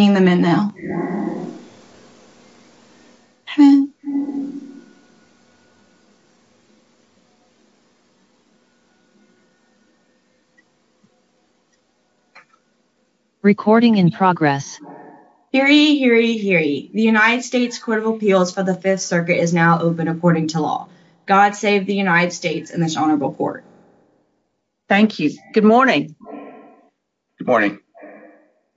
Hearing, hearing, hearing. The United States Court of Appeals for the Fifth Circuit is now open according to law. God save the United States and this honorable court. Thank you. Good morning. Good morning.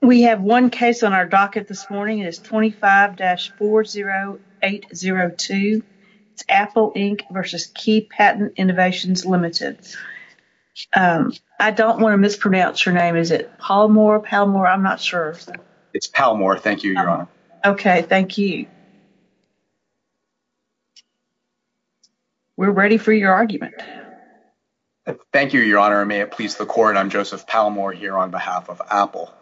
We have one case on our docket this morning. It is 25-40802. It's Apple Inc. v. Key Patent Innovations Limited. I don't want to mispronounce your name. Is it Palmore, Palmore? I'm not sure. It's Palmore. Thank you, Your Honor. Okay. Thank you. We're ready for your argument. Thank you, Your Honor. May it please the court. I'm Joseph Palmore here on behalf of Apple.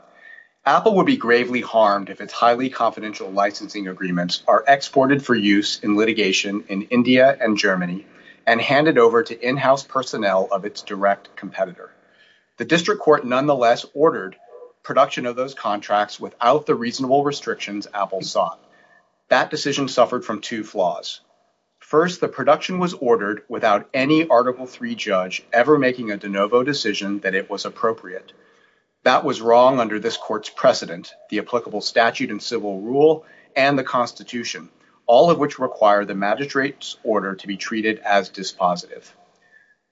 Apple would be gravely harmed if its highly confidential licensing agreements are exported for use in litigation in India and Germany and handed over to in-house personnel of its direct competitor. The district court nonetheless ordered production of those contracts without the reasonable restrictions Apple sought. That decision suffered from two flaws. First, the production was ordered without any Article III judge ever making a de novo decision that it was appropriate. That was wrong under this court's precedent, the applicable statute and civil rule, and the Constitution, all of which require the magistrate's order to be treated as dispositive.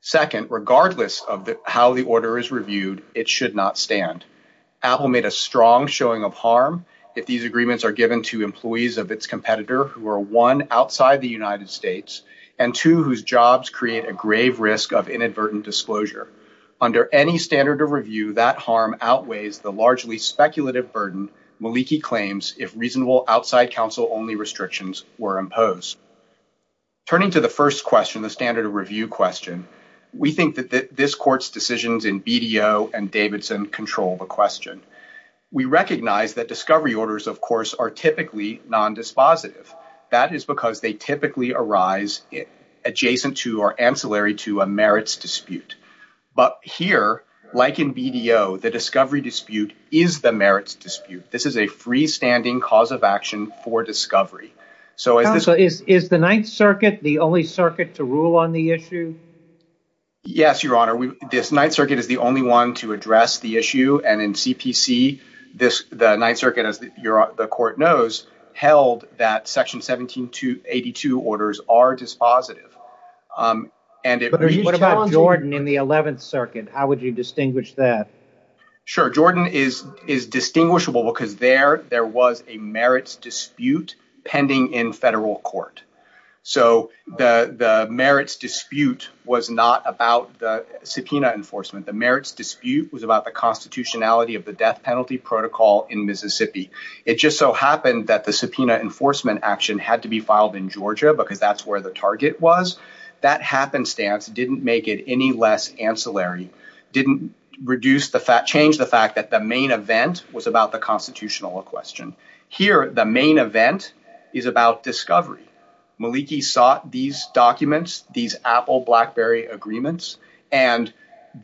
Second, regardless of how the order is reviewed, it should not stand. Apple made a strong showing of harm if these agreements are given to employees of its competitor who are, one, outside the United States, and, two, whose jobs create a grave risk of inadvertent disclosure. Under any standard of review, that harm outweighs the largely speculative burden Maliki claims if reasonable outside counsel-only restrictions were imposed. Turning to the first question, the standard of review question, we think that this court's decisions in BDO and Davidson control the question. We recognize that discovery orders, of course, are typically non-dispositive. That is because they typically arise adjacent to or ancillary to a merits dispute. But here, like in BDO, the discovery dispute is the merits dispute. This is a freestanding cause of action for discovery. Is the Ninth Circuit the only circuit to rule on the issue? Yes, Your Honor. The Ninth Circuit is the only one to address the issue, and in CPC, the Ninth Circuit, as the court knows, held that Section 1782 orders are dispositive. What about Jordan in the Eleventh Circuit? How would you distinguish that? Sure. Jordan is distinguishable because there was a merits dispute pending in federal court. So the merits dispute was not about the subpoena enforcement. The merits dispute was about the constitutionality of the death penalty protocol in Mississippi. It just so happened that the subpoena enforcement action had to be filed in Georgia because that's where the target was. That happenstance didn't make it any less ancillary, didn't change the fact that the main event was about the constitutional question. Here, the main event is about discovery. Maliki sought these documents, these Apple-BlackBerry agreements, and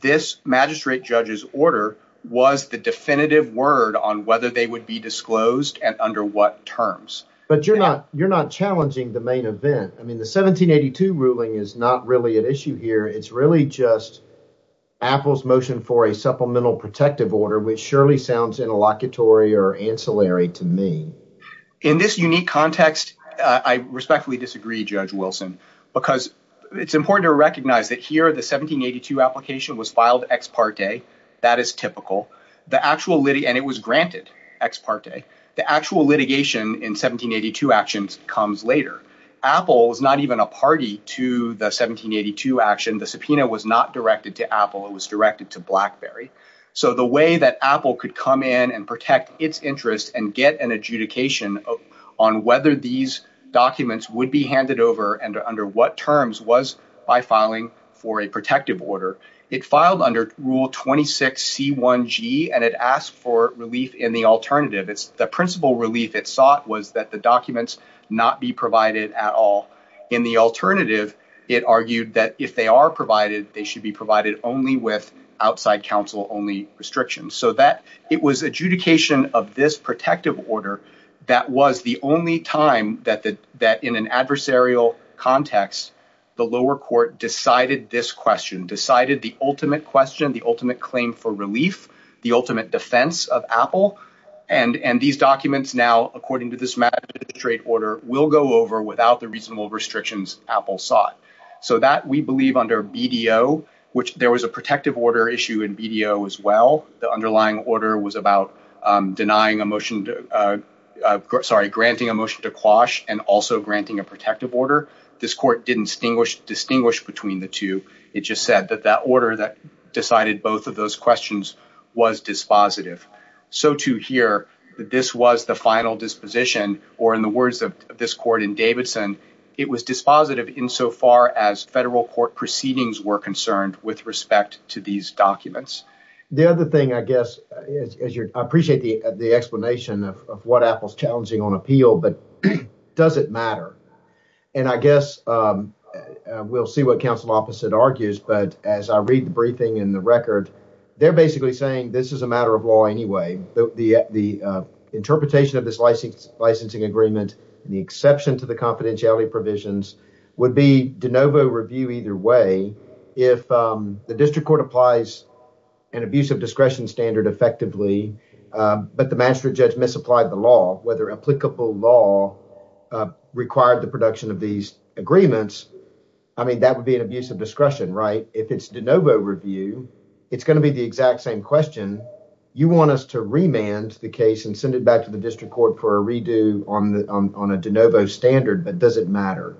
this magistrate judge's order was the definitive word on whether they would be disclosed and under what terms. But you're not challenging the main event. I mean, the 1782 ruling is not really at issue here. It's really just Apple's motion for a supplemental protective order, which surely sounds interlocutory or ancillary to me. In this unique context, I respectfully disagree, Judge Wilson, because it's important to recognize that here the 1782 application was filed ex parte. That is typical. And it was granted ex parte. The actual litigation in 1782 actions comes later. Apple was not even a party to the 1782 action. The subpoena was not directed to Apple. It was directed to BlackBerry. So the way that Apple could come in and protect its interest and get an adjudication on whether these documents would be handed over and under what terms was by filing for a protective order. It filed under Rule 26C1G, and it asked for relief in the alternative. The principal relief it sought was that the documents not be provided at all. In the alternative, it argued that if they are provided, they should be provided only with outside counsel-only restrictions. So it was adjudication of this protective order that was the only time that in an adversarial context, the lower court decided this question, decided the ultimate question, the ultimate claim for relief, the ultimate defense of Apple. And these documents now, according to this magistrate order, will go over without the reasonable restrictions Apple sought. So that we believe under BDO, which there was a protective order issue in BDO as well. The underlying order was about denying a motion, sorry, granting a motion to quash and also granting a protective order. This court didn't distinguish between the two. It just said that that order that decided both of those questions was dispositive. So to hear that this was the final disposition or in the words of this court in Davidson, it was dispositive insofar as federal court proceedings were concerned with respect to these documents. The other thing, I guess, is I appreciate the explanation of what Apple's challenging on appeal, but does it matter? And I guess we'll see what counsel opposite argues. But as I read the briefing in the record, they're basically saying this is a matter of law anyway. The interpretation of this licensing agreement, the exception to the confidentiality provisions would be de novo review either way. If the district court applies an abuse of discretion standard effectively, but the magistrate judge misapplied the law, whether applicable law required the production of these agreements. I mean, that would be an abuse of discretion, right? If it's de novo review, it's going to be the exact same question. You want us to remand the case and send it back to the district court for a redo on a de novo standard. But does it matter?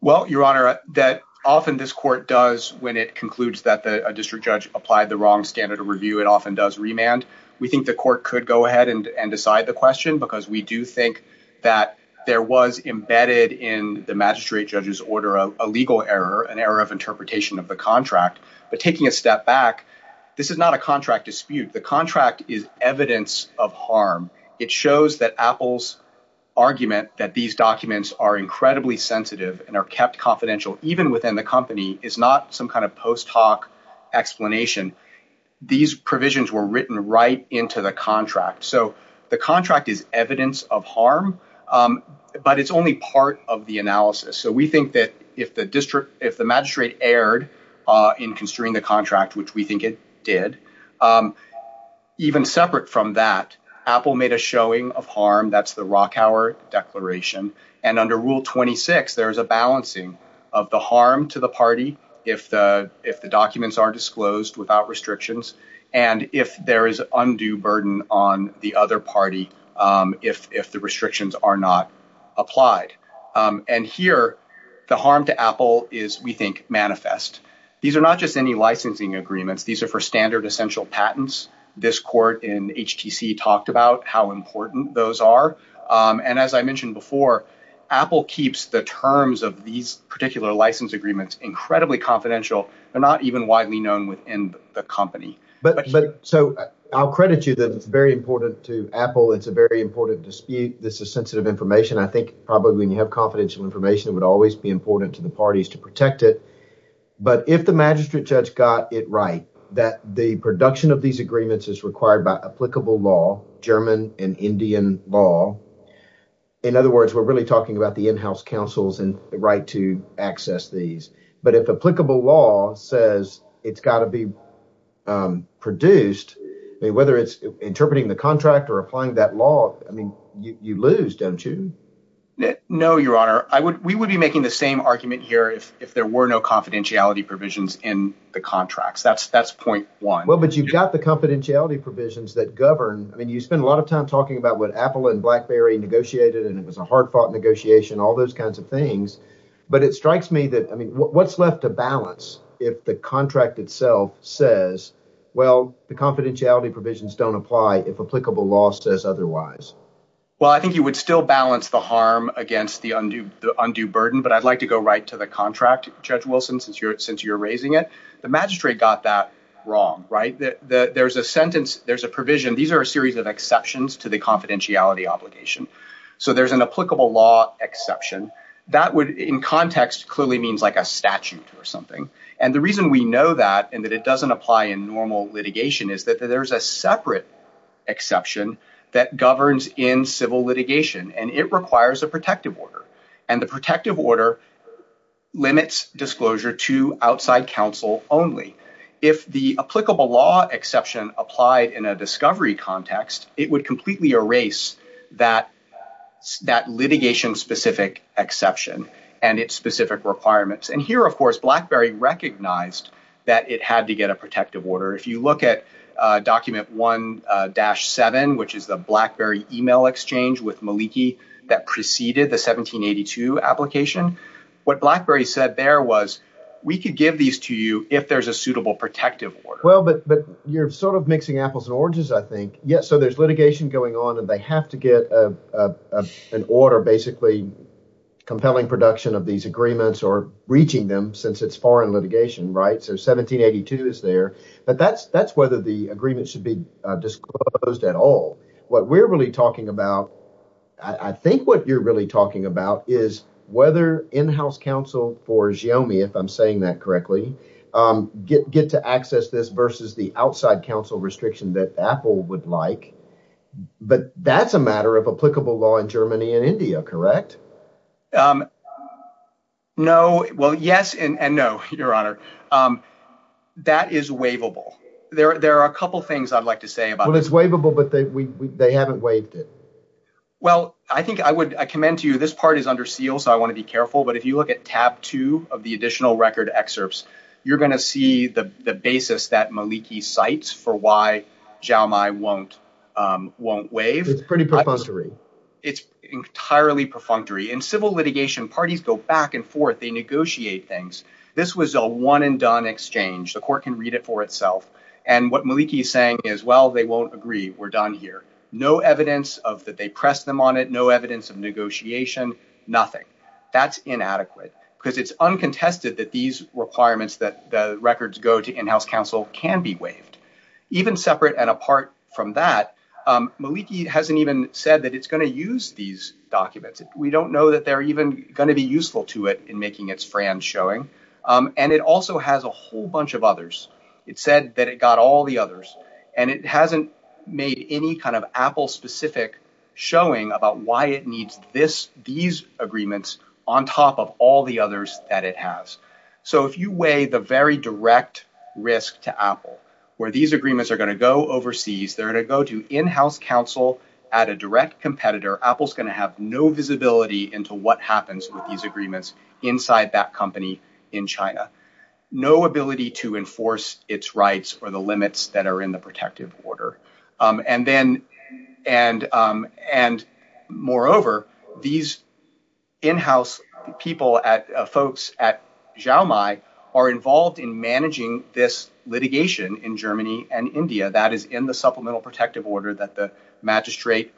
Well, Your Honor, that often this court does when it concludes that the district judge applied the wrong standard of review, it often does remand. We think the court could go ahead and decide the question because we do think that there was embedded in the magistrate judge's order, a legal error, an error of interpretation of the contract. But taking a step back, this is not a contract dispute. The contract is evidence of harm. It shows that Apple's argument that these documents are incredibly sensitive and are kept confidential, even within the company, is not some kind of post hoc explanation. These provisions were written right into the contract. So the contract is evidence of harm, but it's only part of the analysis. So we think that if the district, if the magistrate erred in constraining the contract, which we think it did, even separate from that, Apple made a showing of harm. That's the Rockour Declaration. And under Rule 26, there is a balancing of the harm to the party if the documents are disclosed without restrictions and if there is undue burden on the other party if the restrictions are not applied. And here, the harm to Apple is, we think, manifest. These are not just any licensing agreements. These are for standard essential patents. This court in HTC talked about how important those are. And as I mentioned before, Apple keeps the terms of these particular license agreements incredibly confidential. They're not even widely known within the company. But so I'll credit you that it's very important to Apple. It's a very important dispute. This is sensitive information. I think probably when you have confidential information, it would always be important to the parties to protect it. But if the magistrate judge got it right, that the production of these agreements is required by applicable law, German and Indian law. In other words, we're really talking about the in-house councils and the right to access these. But if applicable law says it's got to be produced, whether it's interpreting the contract or applying that law, I mean, you lose, don't you? No, Your Honor. We would be making the same argument here if there were no confidentiality provisions in the contracts. That's point one. Well, but you've got the confidentiality provisions that govern. I mean, you spend a lot of time talking about what Apple and BlackBerry negotiated, and it was a hard-fought negotiation, all those kinds of things. But it strikes me that, I mean, what's left to balance if the contract itself says, well, the confidentiality provisions don't apply if applicable law says otherwise? Well, I think you would still balance the harm against the undue burden. But I'd like to go right to the contract, Judge Wilson, since you're raising it. The magistrate got that wrong, right? There's a sentence, there's a provision. These are a series of exceptions to the confidentiality obligation. So there's an applicable law exception. That would, in context, clearly means like a statute or something. And the reason we know that and that it doesn't apply in normal litigation is that there's a separate exception that governs in civil litigation, and it requires a protective order. And the protective order limits disclosure to outside counsel only. If the applicable law exception applied in a discovery context, it would completely erase that litigation-specific exception and its specific requirements. And here, of course, BlackBerry recognized that it had to get a protective order. If you look at Document 1-7, which is the BlackBerry email exchange with Maliki that preceded the 1782 application, what BlackBerry said there was, we could give these to you if there's a suitable protective order. Well, but you're sort of mixing apples and oranges, I think. So there's litigation going on, and they have to get an order basically compelling production of these agreements or reaching them since it's foreign litigation, right? So 1782 is there. But that's whether the agreement should be disclosed at all. What we're really talking about, I think what you're really talking about is whether in-house counsel for Xiaomi, if I'm saying that correctly, get to access this versus the outside counsel restriction that Apple would like. But that's a matter of applicable law in Germany and India, correct? No. Well, yes and no, Your Honor. That is waivable. There are a couple things I'd like to say about it. Well, it's waivable, but they haven't waived it. Well, I think I would commend to you this part is under seal, so I want to be careful. But if you look at tab two of the additional record excerpts, you're going to see the basis that Maliki cites for why Xiaomi won't waive. It's pretty perfunctory. It's entirely perfunctory. In civil litigation, parties go back and forth. They negotiate things. This was a one and done exchange. The court can read it for itself. And what Maliki is saying is, well, they won't agree. We're done here. No evidence of that. They press them on it. No evidence of negotiation. Nothing. That's inadequate because it's uncontested that these requirements that the records go to in-house counsel can be waived. Even separate and apart from that, Maliki hasn't even said that it's going to use these documents. We don't know that they're even going to be useful to it in making its friends showing. And it also has a whole bunch of others. It said that it got all the others, and it hasn't made any kind of Apple-specific showing about why it needs these agreements on top of all the others that it has. So if you weigh the very direct risk to Apple, where these agreements are going to go overseas, they're going to go to in-house counsel at a direct competitor, Apple's going to have no visibility into what happens with these agreements inside that company in China. No ability to enforce its rights or the limits that are in the protective order. And moreover, these in-house folks at Xiaomai are involved in managing this litigation in Germany and India. That is in the supplemental protective order that the magistrate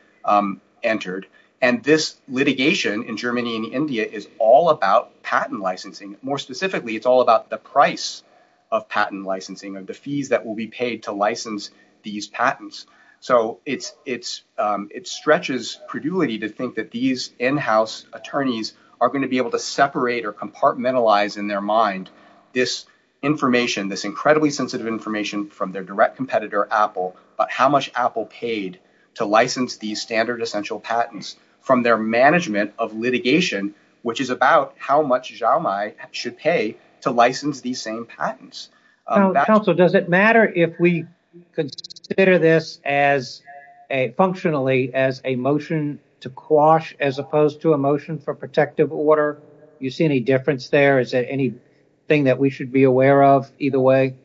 entered. And this litigation in Germany and India is all about patent licensing. More specifically, it's all about the price of patent licensing or the fees that will be paid to license these patents. So it stretches credulity to think that these in-house attorneys are going to be able to separate or compartmentalize in their mind this information, this incredibly sensitive information from their direct competitor, Apple, about how much Apple paid to license these standard essential patents from their management of litigation, which is about how much Xiaomai has to pay. How much Xiaomai should pay to license these same patents. Counsel, does it matter if we consider this functionally as a motion to quash as opposed to a motion for protective order? You see any difference there? Is there anything that we should be aware of either way?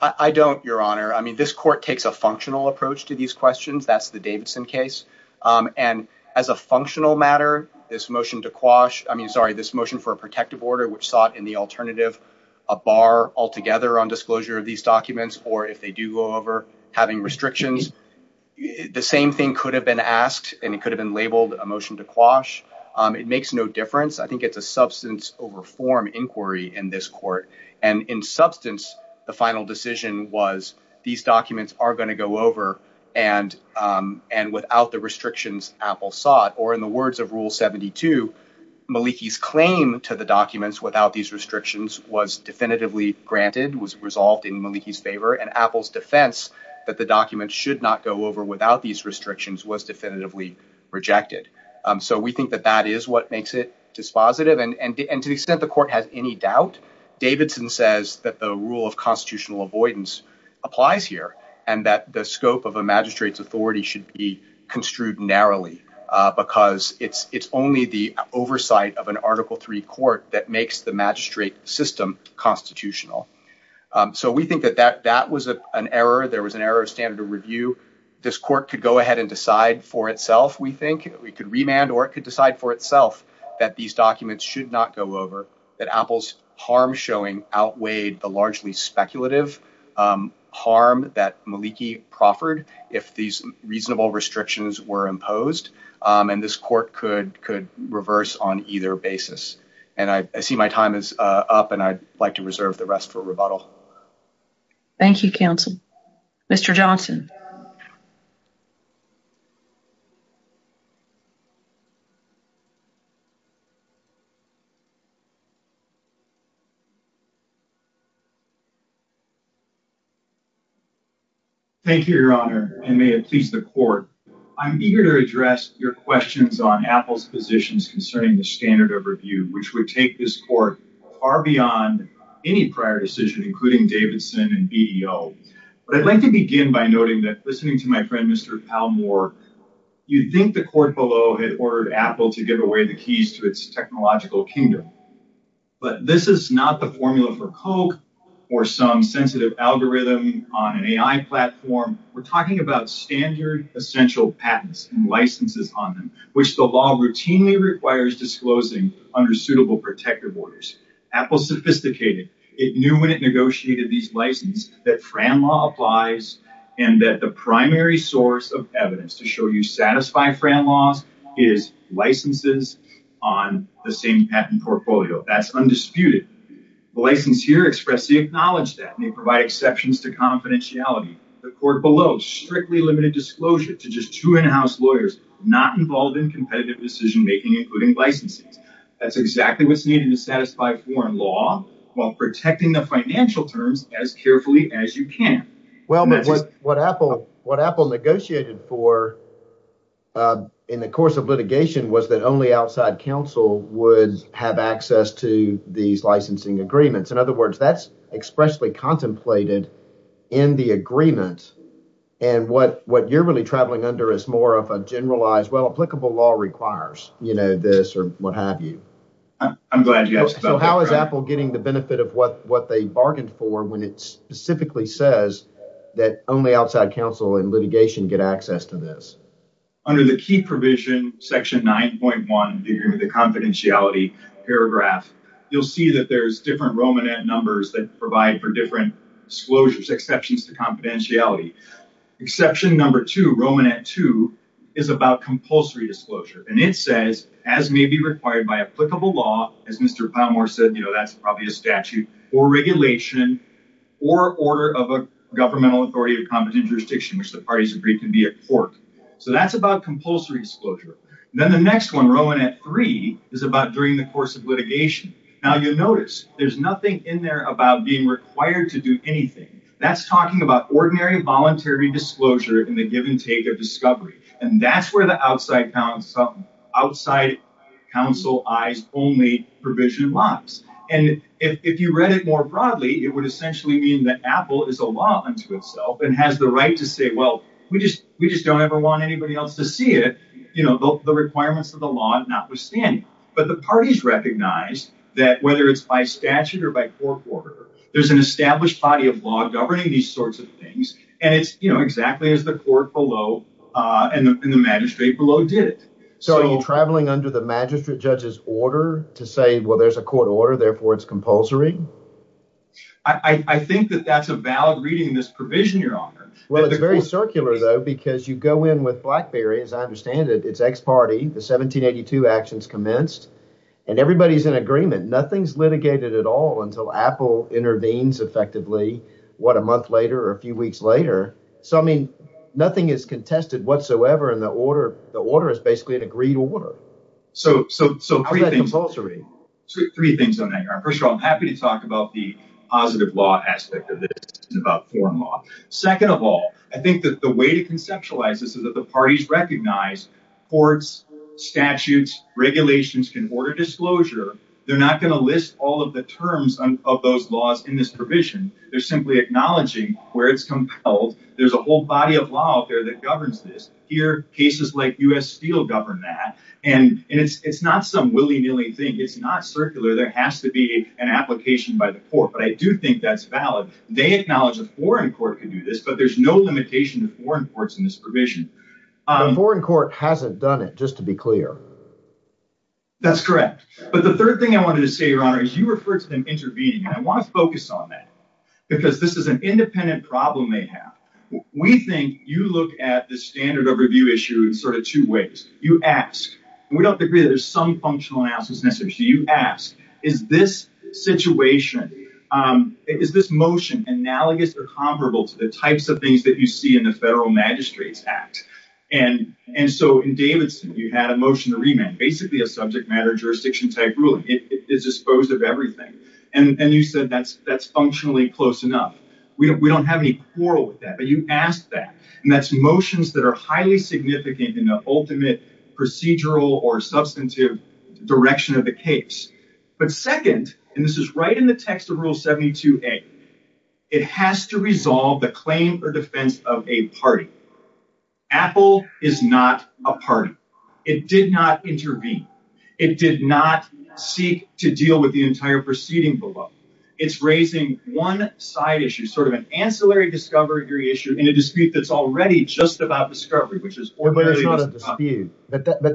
I don't, Your Honor. I mean, this court takes a functional approach to these questions. That's the Davidson case. And as a functional matter, this motion to quash I mean, sorry, this motion for a protective order, which sought in the alternative a bar altogether on disclosure of these documents, or if they do go over having restrictions, the same thing could have been asked and it could have been labeled a motion to quash. It makes no difference. I think it's a substance over form inquiry in this court. And in substance, the final decision was these documents are going to go over and and without the restrictions Apple sought or in the words of Rule 72, Maliki's claim to the documents without these restrictions was definitively granted, was resolved in Maliki's favor and Apple's defense that the documents should not go over without these restrictions was definitively rejected. So we think that that is what makes it dispositive. And to the extent the court has any doubt, Davidson says that the rule of constitutional avoidance applies here and that the scope of a magistrate's authority should be construed narrowly because it's it's only the oversight of an Article 3 court that makes the magistrate system constitutional. So we think that that that was an error. There was an error of standard of review. This court could go ahead and decide for itself. We think we could remand or it could decide for itself that these documents should not go over that Apple's harm showing outweighed the largely speculative harm that Maliki proffered if these reasonable restrictions were imposed. And this court could could reverse on either basis. And I see my time is up and I'd like to reserve the rest for rebuttal. Thank you, counsel. Mr. Johnson. Thank you, Your Honor. And may it please the court. I'm eager to address your questions on Apple's positions concerning the standard of review, which would take this court far beyond any prior decision, including Davidson and BDO. But I'd like to begin by noting that listening to my friend, Mr. Palmore, you'd think the court below had ordered Apple to give away the keys to its technological kingdom. But this is not the formula for Coke or some sensitive algorithm on an AI platform. We're talking about standard essential patents and licenses on them, which the law routinely requires disclosing under suitable protective orders. Apple's sophisticated. It knew when it negotiated these license that Fran law applies and that the primary source of evidence to show you satisfy Fran laws is licenses on the same patent portfolio. That's undisputed. The license here expressly acknowledged that may provide exceptions to confidentiality. The court below strictly limited disclosure to just two in-house lawyers not involved in competitive decision making, including licenses. That's exactly what's needed to satisfy foreign law while protecting the financial terms as carefully as you can. Well, what Apple what Apple negotiated for in the course of litigation was that only outside counsel would have access to these licensing agreements. In other words, that's expressly contemplated in the agreement. And what what you're really traveling under is more of a generalized, well, applicable law requires, you know, this or what have you. So how is Apple getting the benefit of what what they bargained for when it specifically says that only outside counsel in litigation get access to this under the key provision? Section 9.1, the confidentiality paragraph. You'll see that there's different Roman numbers that provide for different disclosures, exceptions to confidentiality. Exception number two, Roman at two, is about compulsory disclosure. And it says, as may be required by applicable law, as Mr. Palmore said, you know, that's probably a statute or regulation or order of a governmental authority or competent jurisdiction, which the parties agree can be a court. So that's about compulsory disclosure. Then the next one, Roman at three, is about during the course of litigation. Now, you'll notice there's nothing in there about being required to do anything. That's talking about ordinary voluntary disclosure in the give and take of discovery. And that's where the outside counsel, outside counsel eyes only provision lies. And if you read it more broadly, it would essentially mean that Apple is a law unto itself and has the right to say, well, we just we just don't ever want anybody else to see it. You know, the requirements of the law notwithstanding. But the parties recognize that whether it's by statute or by court order, there's an established body of law governing these sorts of things. And it's, you know, exactly as the court below and the magistrate below did it. So are you traveling under the magistrate judge's order to say, well, there's a court order, therefore it's compulsory? I think that that's a valid reading in this provision, your honor. Well, it's very circular, though, because you go in with Blackberry, as I understand it, it's X party. The 1782 actions commenced and everybody's in agreement. Nothing's litigated at all until Apple intervenes effectively. What, a month later or a few weeks later? So, I mean, nothing is contested whatsoever in the order. The order is basically an agreed order. So, so, so compulsory. First of all, I'm happy to talk about the positive law aspect of this and about foreign law. Second of all, I think that the way to conceptualize this is that the parties recognize courts, statutes, regulations can order disclosure. They're not going to list all of the terms of those laws in this provision. They're simply acknowledging where it's compelled. There's a whole body of law out there that governs this. Here, cases like U.S. Steel govern that. And it's not some willy nilly thing. It's not circular. There has to be an application by the court. But I do think that's valid. They acknowledge a foreign court can do this, but there's no limitation to foreign courts in this provision. The foreign court hasn't done it, just to be clear. That's correct. But the third thing I wanted to say, your honor, is you referred to them intervening. And I want to focus on that because this is an independent problem they have. We think you look at the standard of review issue in sort of two ways. You ask, and we don't agree that there's some functional analysis necessary. You ask, is this situation, is this motion analogous or comparable to the types of things that you see in the Federal Magistrates Act? And so in Davidson, you had a motion to remand, basically a subject matter jurisdiction type ruling. It is disposed of everything. And you said that's functionally close enough. We don't have any quarrel with that, but you asked that. And that's motions that are highly significant in the ultimate procedural or substantive direction of the case. But second, and this is right in the text of Rule 72a, it has to resolve the claim for defense of a party. Apple is not a party. It did not intervene. It did not seek to deal with the entire proceeding below. It's raising one side issue, sort of an ancillary discovery issue in a dispute that's already just about discovery, which is. But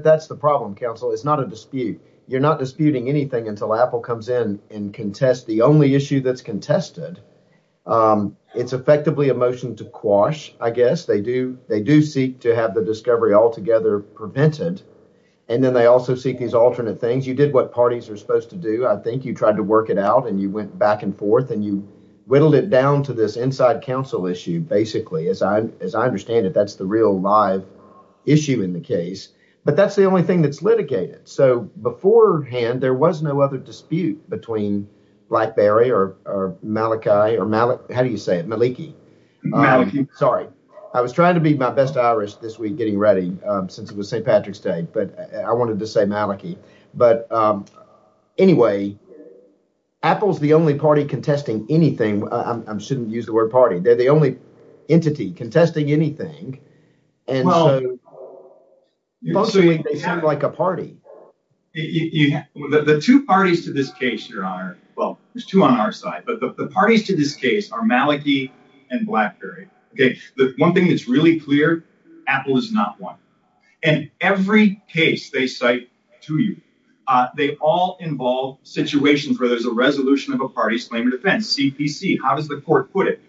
that's the problem, counsel. It's not a dispute. You're not disputing anything until Apple comes in and contest the only issue that's contested. It's effectively a motion to quash. I guess they do. They do seek to have the discovery altogether prevented. And then they also seek these alternate things. You did what parties are supposed to do. I think you tried to work it out and you went back and forth and you whittled it down to this inside council issue. Basically, as I as I understand it, that's the real live issue in the case. But that's the only thing that's litigated. So beforehand, there was no other dispute between Blackberry or Maliki or Malik. How do you say it? Maliki. Sorry. I was trying to be my best Irish this week getting ready since it was St. Maliki. But anyway, Apple's the only party contesting anything. I shouldn't use the word party. They're the only entity contesting anything. And so they sound like a party. The two parties to this case, your honor. Well, there's two on our side. But the parties to this case are Maliki and Blackberry. One thing that's really clear. Apple is not one. In every case they cite to you, they all involve situations where there's a resolution of a party's claim of defense. CPC. How does the court put it?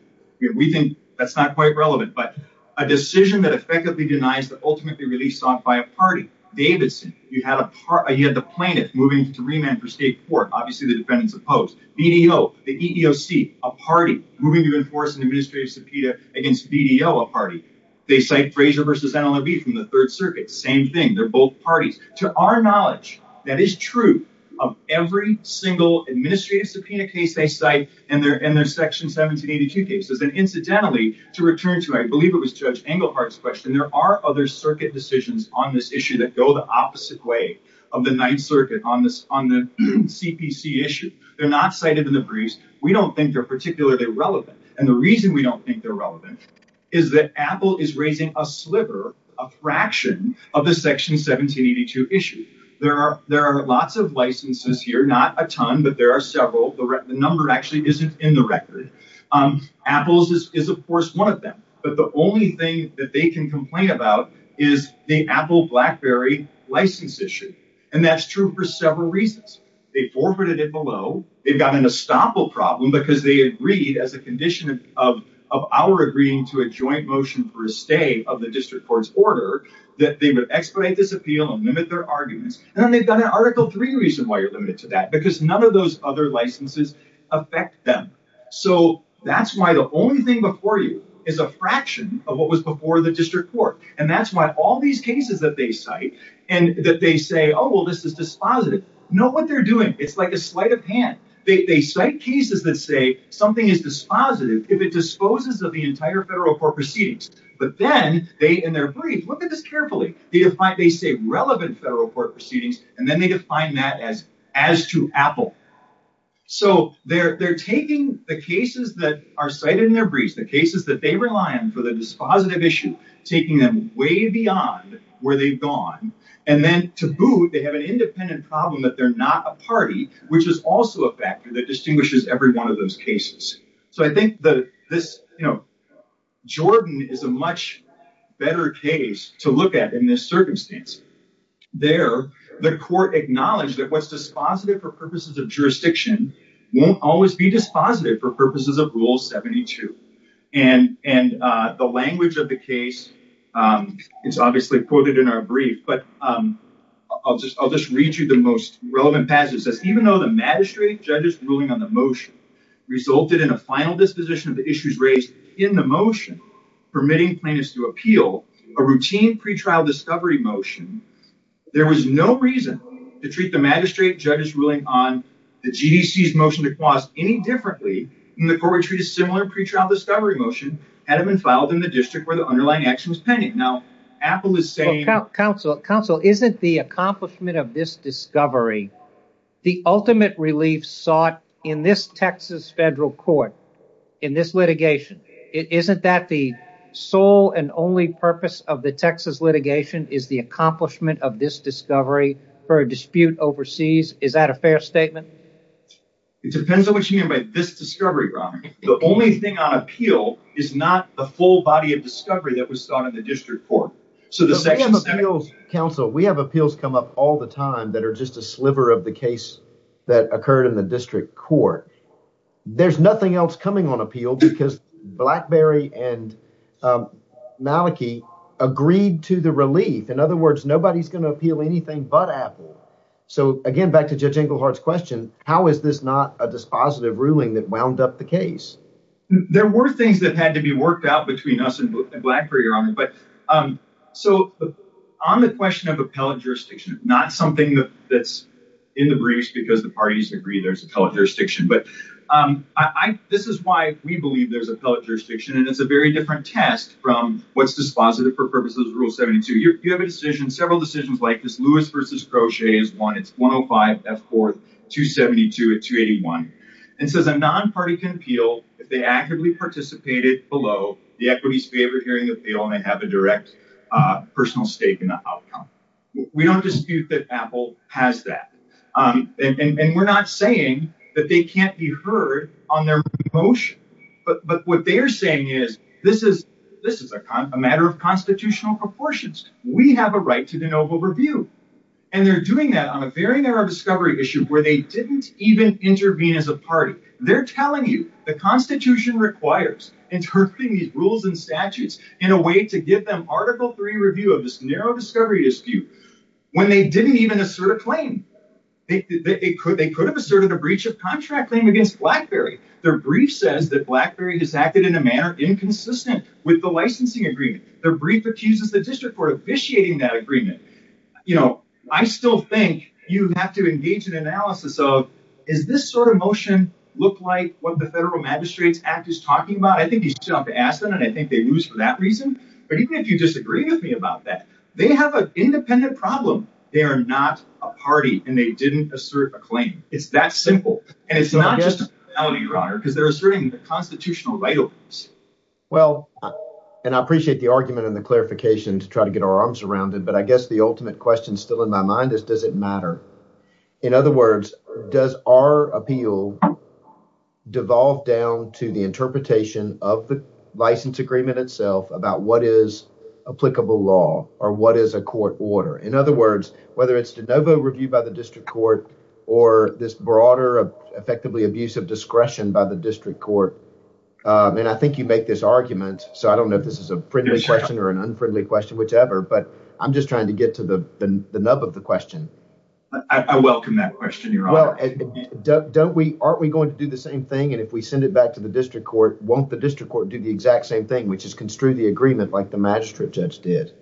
We think that's not quite relevant. But a decision that effectively denies that ultimately released on by a party. Davidson. You had a party. You had the plaintiff moving to remand for state court. Obviously, the defendants opposed BDO, the EEOC, a party moving to enforce an administrative subpoena against BDO, a party. They cite Frazier versus NLRB from the Third Circuit. Same thing. They're both parties to our knowledge. That is true of every single administrative subpoena case. They cite and they're in their section 1782 cases. And incidentally, to return to, I believe it was Judge Engelhardt's question. There are other circuit decisions on this issue that go the opposite way of the Ninth Circuit on this on the CPC issue. They're not cited in the briefs. We don't think they're particularly relevant. And the reason we don't think they're relevant is that Apple is raising a sliver, a fraction of the section 1782 issue. There are there are lots of licenses here, not a ton, but there are several. The number actually isn't in the record. Apple's is, of course, one of them. But the only thing that they can complain about is the Apple BlackBerry license issue. And that's true for several reasons. They forfeited it below. They've got an estoppel problem because they agreed, as a condition of our agreeing to a joint motion for a stay of the district court's order, that they would expedite this appeal and limit their arguments. And then they've got an Article 3 reason why you're limited to that, because none of those other licenses affect them. So that's why the only thing before you is a fraction of what was before the district court. And that's why all these cases that they cite and that they say, oh, well, this is dispositive. Know what they're doing. It's like a sleight of hand. They cite cases that say something is dispositive if it disposes of the entire federal court proceedings. But then they in their brief look at this carefully. They say relevant federal court proceedings, and then they define that as as to Apple. So they're taking the cases that are cited in their briefs, the cases that they rely on for the dispositive issue, taking them way beyond where they've gone. And then to boot, they have an independent problem that they're not a party, which is also a factor that distinguishes every one of those cases. So I think that this, you know, Jordan is a much better case to look at in this circumstance. There, the court acknowledged that what's dispositive for purposes of jurisdiction won't always be dispositive for purposes of Rule 72. And and the language of the case, it's obviously quoted in our brief. But I'll just I'll just read you the most relevant passage. Even though the magistrate judges ruling on the motion resulted in a final disposition of the issues raised in the motion, permitting plaintiffs to appeal a routine pretrial discovery motion. There was no reason to treat the magistrate judge's ruling on the GDC's motion to cause any differently in the court. We treat a similar pretrial discovery motion had been filed in the district where the underlying action was pending. Now, Apple is saying counsel counsel isn't the accomplishment of this discovery. The ultimate relief sought in this Texas federal court in this litigation. It isn't that the sole and only purpose of the Texas litigation is the accomplishment of this discovery for a dispute overseas. Is that a fair statement? It depends on what you mean by this discovery. The only thing on appeal is not a full body of discovery that was sought in the district court. So the appeals counsel, we have appeals come up all the time that are just a sliver of the case that occurred in the district court. There's nothing else coming on appeal because Blackberry and Maliki agreed to the relief. In other words, nobody's going to appeal anything but Apple. So, again, back to Judge Inglehart's question, how is this not a dispositive ruling that wound up the case? There were things that had to be worked out between us and Blackberry on it. But so on the question of appellate jurisdiction, not something that's in the briefs because the parties agree there's appellate jurisdiction. But this is why we believe there's appellate jurisdiction. And it's a very different test from what's dispositive for purposes of Rule 72. You have a decision, several decisions like this. Lewis versus Crochet is one. It's 105, F4, 272, and 281. It says a non-party can appeal if they actively participated below the equities favor hearing appeal and have a direct personal stake in the outcome. We don't dispute that Apple has that. And we're not saying that they can't be heard on their motion. But what they're saying is this is a matter of constitutional proportions. We have a right to de novo review. And they're doing that on a very narrow discovery issue where they didn't even intervene as a party. They're telling you the Constitution requires interpreting these rules and statutes in a way to give them Article III review of this narrow discovery issue when they didn't even assert a claim. They could have asserted a breach of contract claim against Blackberry. Their brief says that Blackberry has acted in a manner inconsistent with the licensing agreement. Their brief accuses the district court of vitiating that agreement. I still think you have to engage in analysis of is this sort of motion look like what the Federal Magistrates Act is talking about? I think you still have to ask them. And I think they lose for that reason. But even if you disagree with me about that, they have an independent problem. They are not a party. And they didn't assert a claim. It's that simple. And it's not just because they're asserting the constitutional right. Well, and I appreciate the argument and the clarification to try to get our arms around it. But I guess the ultimate question still in my mind is, does it matter? In other words, does our appeal devolve down to the interpretation of the license agreement itself about what is applicable law or what is a court order? In other words, whether it's DeNovo review by the district court or this broader, effectively abusive discretion by the district court. And I think you make this argument. So I don't know if this is a friendly question or an unfriendly question, whichever. But I'm just trying to get to the nub of the question. I welcome that question. Your honor. Don't we? Aren't we going to do the same thing? And if we send it back to the district court, won't the district court do the exact same thing, which is construe the agreement like the magistrate judge did?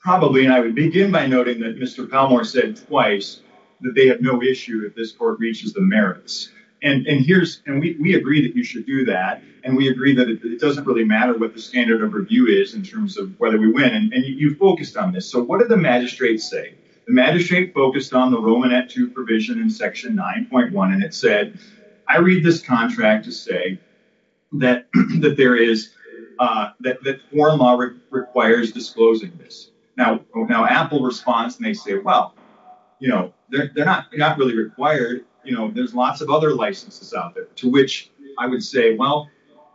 Probably. And I would begin by noting that Mr. Palmore said twice that they have no issue if this court reaches the merits. And here's and we agree that you should do that. And we agree that it doesn't really matter what the standard of review is in terms of whether we win. And you focused on this. So what did the magistrate say? The magistrate focused on the Romanette to provision in Section 9.1. And it said, I read this contract to say that that there is that the former requires disclosing this now. Now, Apple responds and they say, well, you know, they're not they're not really required. You know, there's lots of other licenses out there to which I would say, well,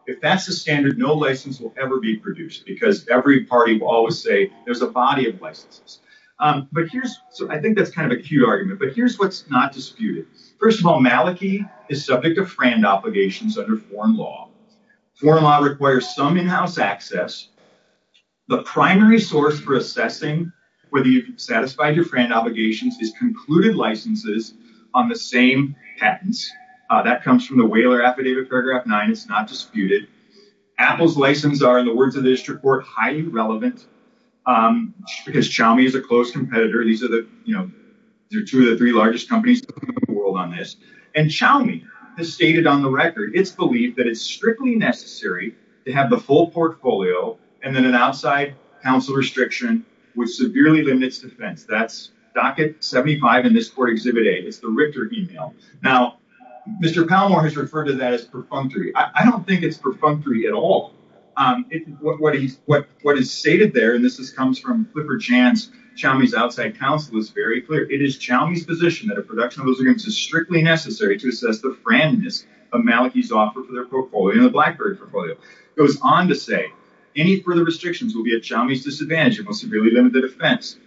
if that's the standard, no license will ever be produced because every party will always say there's a body of licenses. But here's I think that's kind of a key argument. But here's what's not disputed. First of all, Maliki is subject to friend obligations under foreign law. Foreign law requires some in-house access. The primary source for assessing whether you satisfy your friend obligations is concluded licenses on the same patents. That comes from the whaler affidavit. Paragraph nine is not disputed. Apple's license are in the words of this report highly relevant because Xiaomi is a close competitor. These are the two or three largest companies in the world on this. And Xiaomi has stated on the record, it's believed that it's strictly necessary to have the full portfolio and then an outside counsel restriction which severely limits defense. That's docket 75 in this exhibit. It's the Richter email. Now, Mr. Palmore has referred to that as perfunctory. I don't think it's perfunctory at all. What is stated there, and this comes from Clifford Chance, Xiaomi's outside counsel, is very clear. It is Xiaomi's position that a production of those agreements is strictly necessary to assess the friendliness of Maliki's offer for their portfolio and the BlackBerry portfolio. It goes on to say, any further restrictions will be at Xiaomi's disadvantage and will severely limit the defense.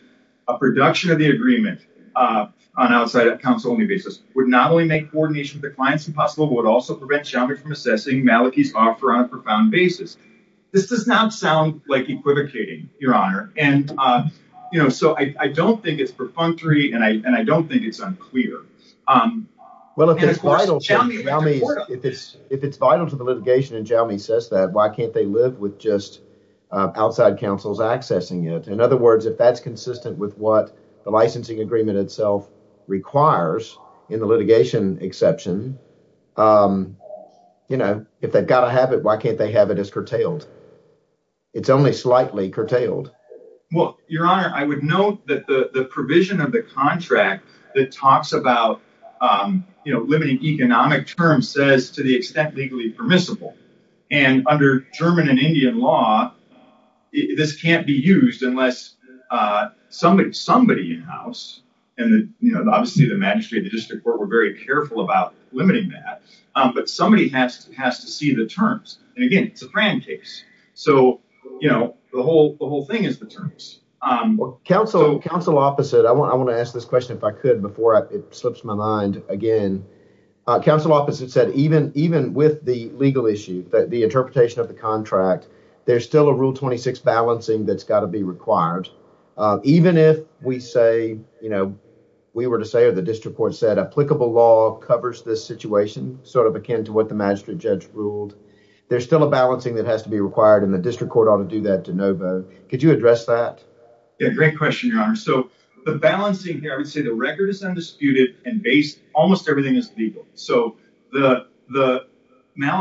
A production of the agreement on outside counsel only basis would not only make coordination with the clients impossible but would also prevent Xiaomi from assessing Maliki's offer on a profound basis. This does not sound like equivocating, Your Honor. And, you know, so I don't think it's perfunctory and I don't think it's unclear. Well, if it's vital to the litigation and Xiaomi says that, why can't they live with just outside counsels accessing it? In other words, if that's consistent with what the licensing agreement itself requires in the litigation exception, you know, if they've got to have it, why can't they have it as curtail? It's only slightly curtailed. Well, Your Honor, I would note that the provision of the contract that talks about, you know, limiting economic terms says to the extent legally permissible. And under German and Indian law, this can't be used unless somebody in-house and, you know, obviously the magistrate, the district court were very careful about limiting that. But somebody has to see the terms. And again, it's a grand case. So, you know, the whole thing is the terms. Counsel, counsel opposite. I want to ask this question if I could before it slips my mind again. Counsel opposite said even even with the legal issue that the interpretation of the contract, there's still a rule 26 balancing that's got to be required. Even if we say, you know, we were to say or the district court said applicable law covers this situation, sort of akin to what the magistrate judge ruled. There's still a balancing that has to be required in the district court ought to do that to no vote. Could you address that? A great question, Your Honor. So the balancing here, I would say the record is undisputed and based. Almost everything is legal. The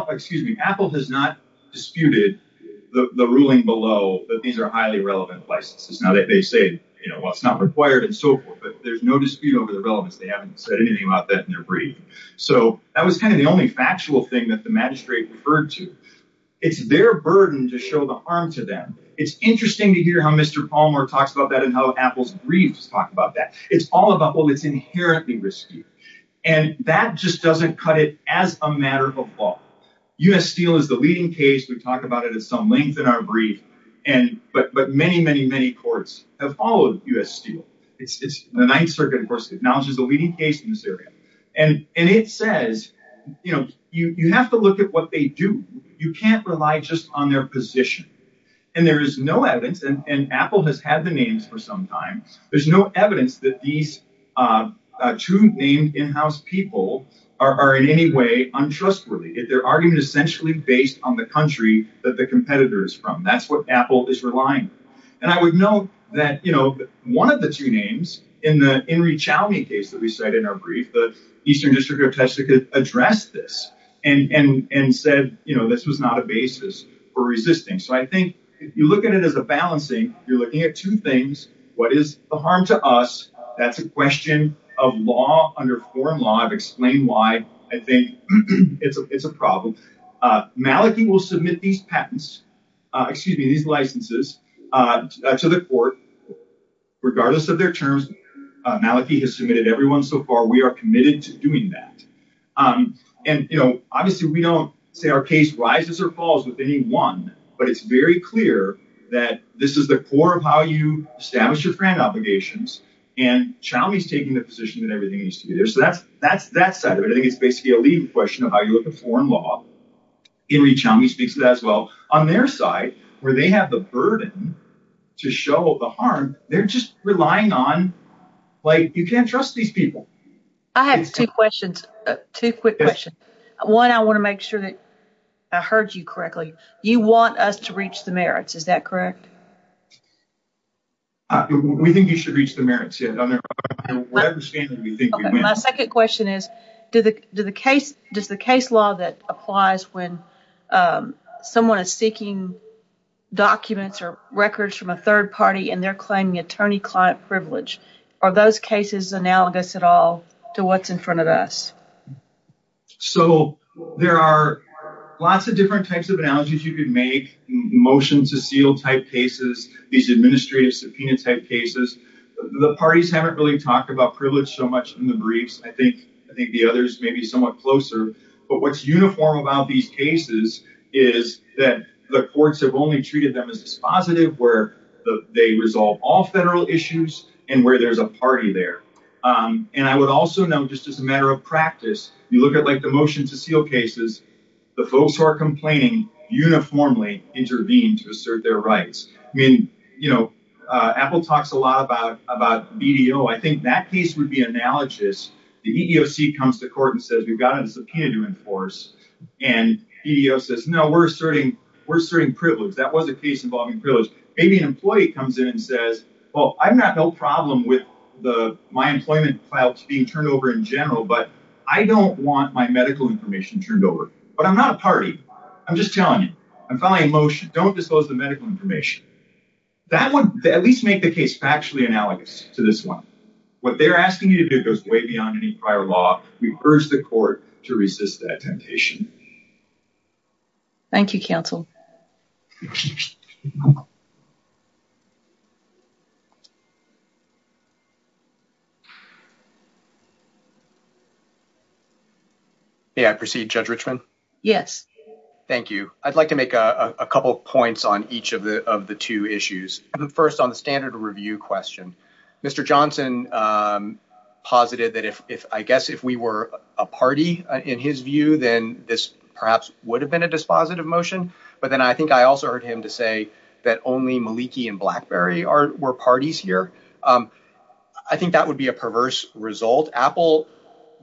excuse me, Apple has not disputed the ruling below that these are highly relevant licenses. Now that they say, you know, what's not required and so forth. But there's no dispute over the relevance. They haven't said anything about that in their brief. So that was kind of the only factual thing that the magistrate referred to. It's their burden to show the harm to them. It's interesting to hear how Mr. Palmer talks about that and how Apple's briefs talk about that. It's all about what is inherently risky. And that just doesn't cut it as a matter of law. U.S. Steel is the leading case. We talk about it at some length in our brief. But many, many, many courts have followed U.S. Steel. The Ninth Circuit, of course, acknowledges the leading case in this area. And it says, you know, you have to look at what they do. You can't rely just on their position. And there is no evidence. And Apple has had the names for some time. There's no evidence that these two named in-house people are in any way untrustworthy. Their argument is essentially based on the country that the competitor is from. That's what Apple is relying on. And I would note that, you know, one of the two names in the Enri Chowney case that we cite in our brief, the Eastern District of Texas addressed this and said, you know, this was not a basis for resisting. So I think if you look at it as a balancing, you're looking at two things. What is the harm to us? That's a question of law under foreign law. I've explained why I think it's a problem. Maliki will submit these patents, excuse me, these licenses to the court regardless of their terms. Maliki has submitted everyone so far. We are committed to doing that. And, you know, obviously we don't say our case rises or falls with any one. But it's very clear that this is the core of how you establish your friend obligations. And Chowney is taking the position that everything needs to be there. So that's that side of it. I think it's basically a legal question of how you look at foreign law. Enri Chowney speaks to that as well. On their side, where they have the burden to show the harm, they're just relying on, like, you can't trust these people. I have two questions, two quick questions. One, I want to make sure that I heard you correctly. You want us to reach the merits, is that correct? We think you should reach the merits. My second question is, does the case law that applies when someone is seeking documents or records from a third party and they're claiming attorney-client privilege, are those cases analogous at all to what's in front of us? So there are lots of different types of analogies you could make, motion to seal type cases, these administrative subpoena type cases. The parties haven't really talked about privilege so much in the briefs. I think the others may be somewhat closer. But what's uniform about these cases is that the courts have only treated them as dispositive, where they resolve all federal issues and where there's a party there. And I would also note, just as a matter of practice, you look at, like, the motion to seal cases, the folks who are complaining uniformly intervene to assert their rights. I mean, you know, Apple talks a lot about BDO. I think that case would be analogous. The EEOC comes to court and says, we've got a subpoena to enforce. And BDO says, no, we're asserting privilege. That was a case involving privilege. Maybe an employee comes in and says, well, I have no problem with my employment files being turned over in general, but I don't want my medical information turned over. But I'm not a party. I'm just telling you. I'm filing a motion. Don't dispose the medical information. That would at least make the case factually analogous to this one. What they're asking you to do goes way beyond any prior law. We urge the court to resist that temptation. Thank you, counsel. May I proceed, Judge Richmond? Yes. Thank you. I'd like to make a couple of points on each of the two issues. First, on the standard review question. Mr. Johnson posited that I guess if we were a party in his view, then this perhaps would have been a dispositive motion. But then I think I also heard him to say that only Maliki and BlackBerry were parties here. I think that would be a perverse result. Apple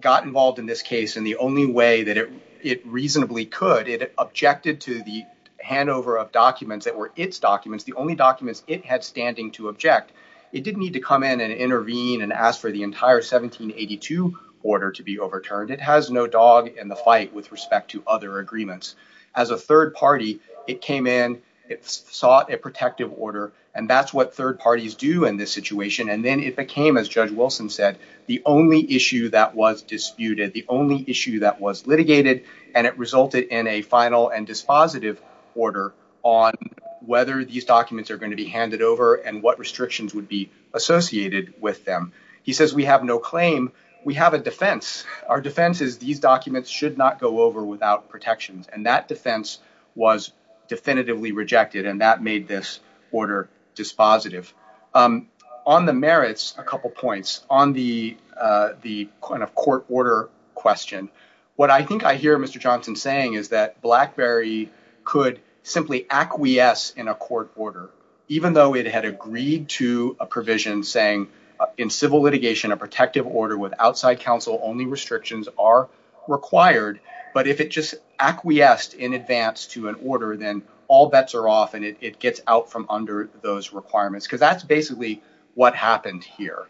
got involved in this case in the only way that it reasonably could. It objected to the handover of documents that were its documents, the only documents it had standing to object. It didn't need to come in and intervene and ask for the entire 1782 order to be overturned. It has no dog in the fight with respect to other agreements. As a third party, it came in, it sought a protective order, and that's what third parties do in this situation. And then it became, as Judge Wilson said, the only issue that was disputed, the only issue that was litigated. And it resulted in a final and dispositive order on whether these documents are going to be handed over and what restrictions would be associated with them. He says we have no claim. We have a defense. Our defense is these documents should not go over without protections. And that defense was definitively rejected, and that made this order dispositive. On the merits, a couple points. On the kind of court order question, what I think I hear Mr. Johnson saying is that BlackBerry could simply acquiesce in a court order, even though it had agreed to a provision saying in civil litigation, a protective order with outside counsel, only restrictions are required. But if it just acquiesced in advance to an order, then all bets are off and it gets out from under those requirements, because that's basically what happened here.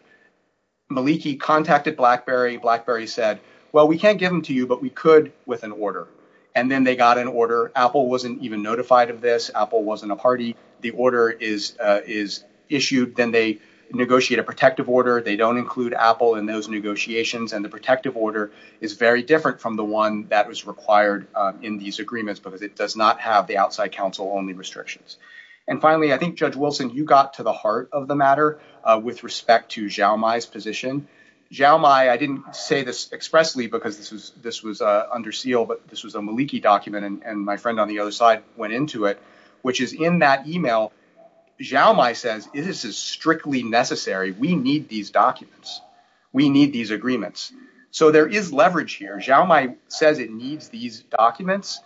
Maliki contacted BlackBerry. BlackBerry said, well, we can't give them to you, but we could with an order. And then they got an order. Apple wasn't even notified of this. Apple wasn't a party. The order is is issued. Then they negotiate a protective order. They don't include Apple in those negotiations. And the protective order is very different from the one that was required in these agreements because it does not have the outside counsel only restrictions. And finally, I think, Judge Wilson, you got to the heart of the matter with respect to Xiaomai's position. Xiaomai, I didn't say this expressly because this was this was under seal, but this was a Maliki document. And my friend on the other side went into it, which is in that email. Xiaomai says this is strictly necessary. We need these documents. We need these agreements. So there is leverage here. Xiaomai says it needs these documents.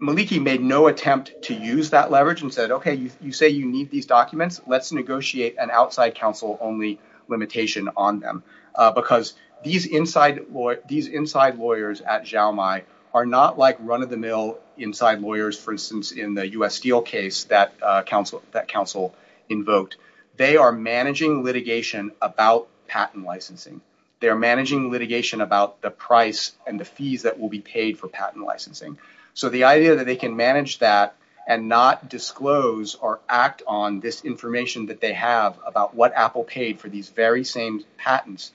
Maliki made no attempt to use that leverage and said, OK, you say you need these documents. Let's negotiate an outside counsel only limitation on them, because these inside lawyers at Xiaomai are not like run of the mill inside lawyers, for instance, in the U.S. Steel case that counsel that counsel invoked. They are managing litigation about patent licensing. They're managing litigation about the price and the fees that will be paid for patent licensing. So the idea that they can manage that and not disclose or act on this information that they have about what Apple paid for these very same patents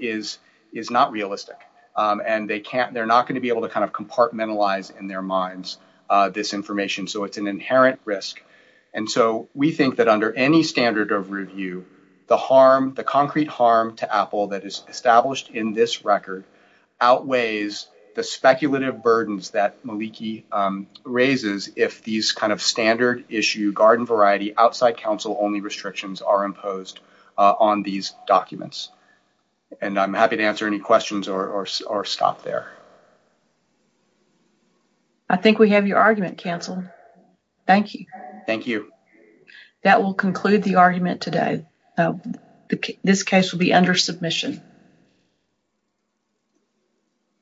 is is not realistic. And they can't they're not going to be able to kind of compartmentalize in their minds this information. So it's an inherent risk. And so we think that under any standard of review, the harm, the concrete harm to Apple that is established in this record outweighs the speculative burdens that Maliki raises. If these kind of standard issue garden variety outside counsel only restrictions are imposed on these documents. And I'm happy to answer any questions or stop there. I think we have your argument canceled. Thank you. Thank you. That will conclude the argument today. This case will be under submission.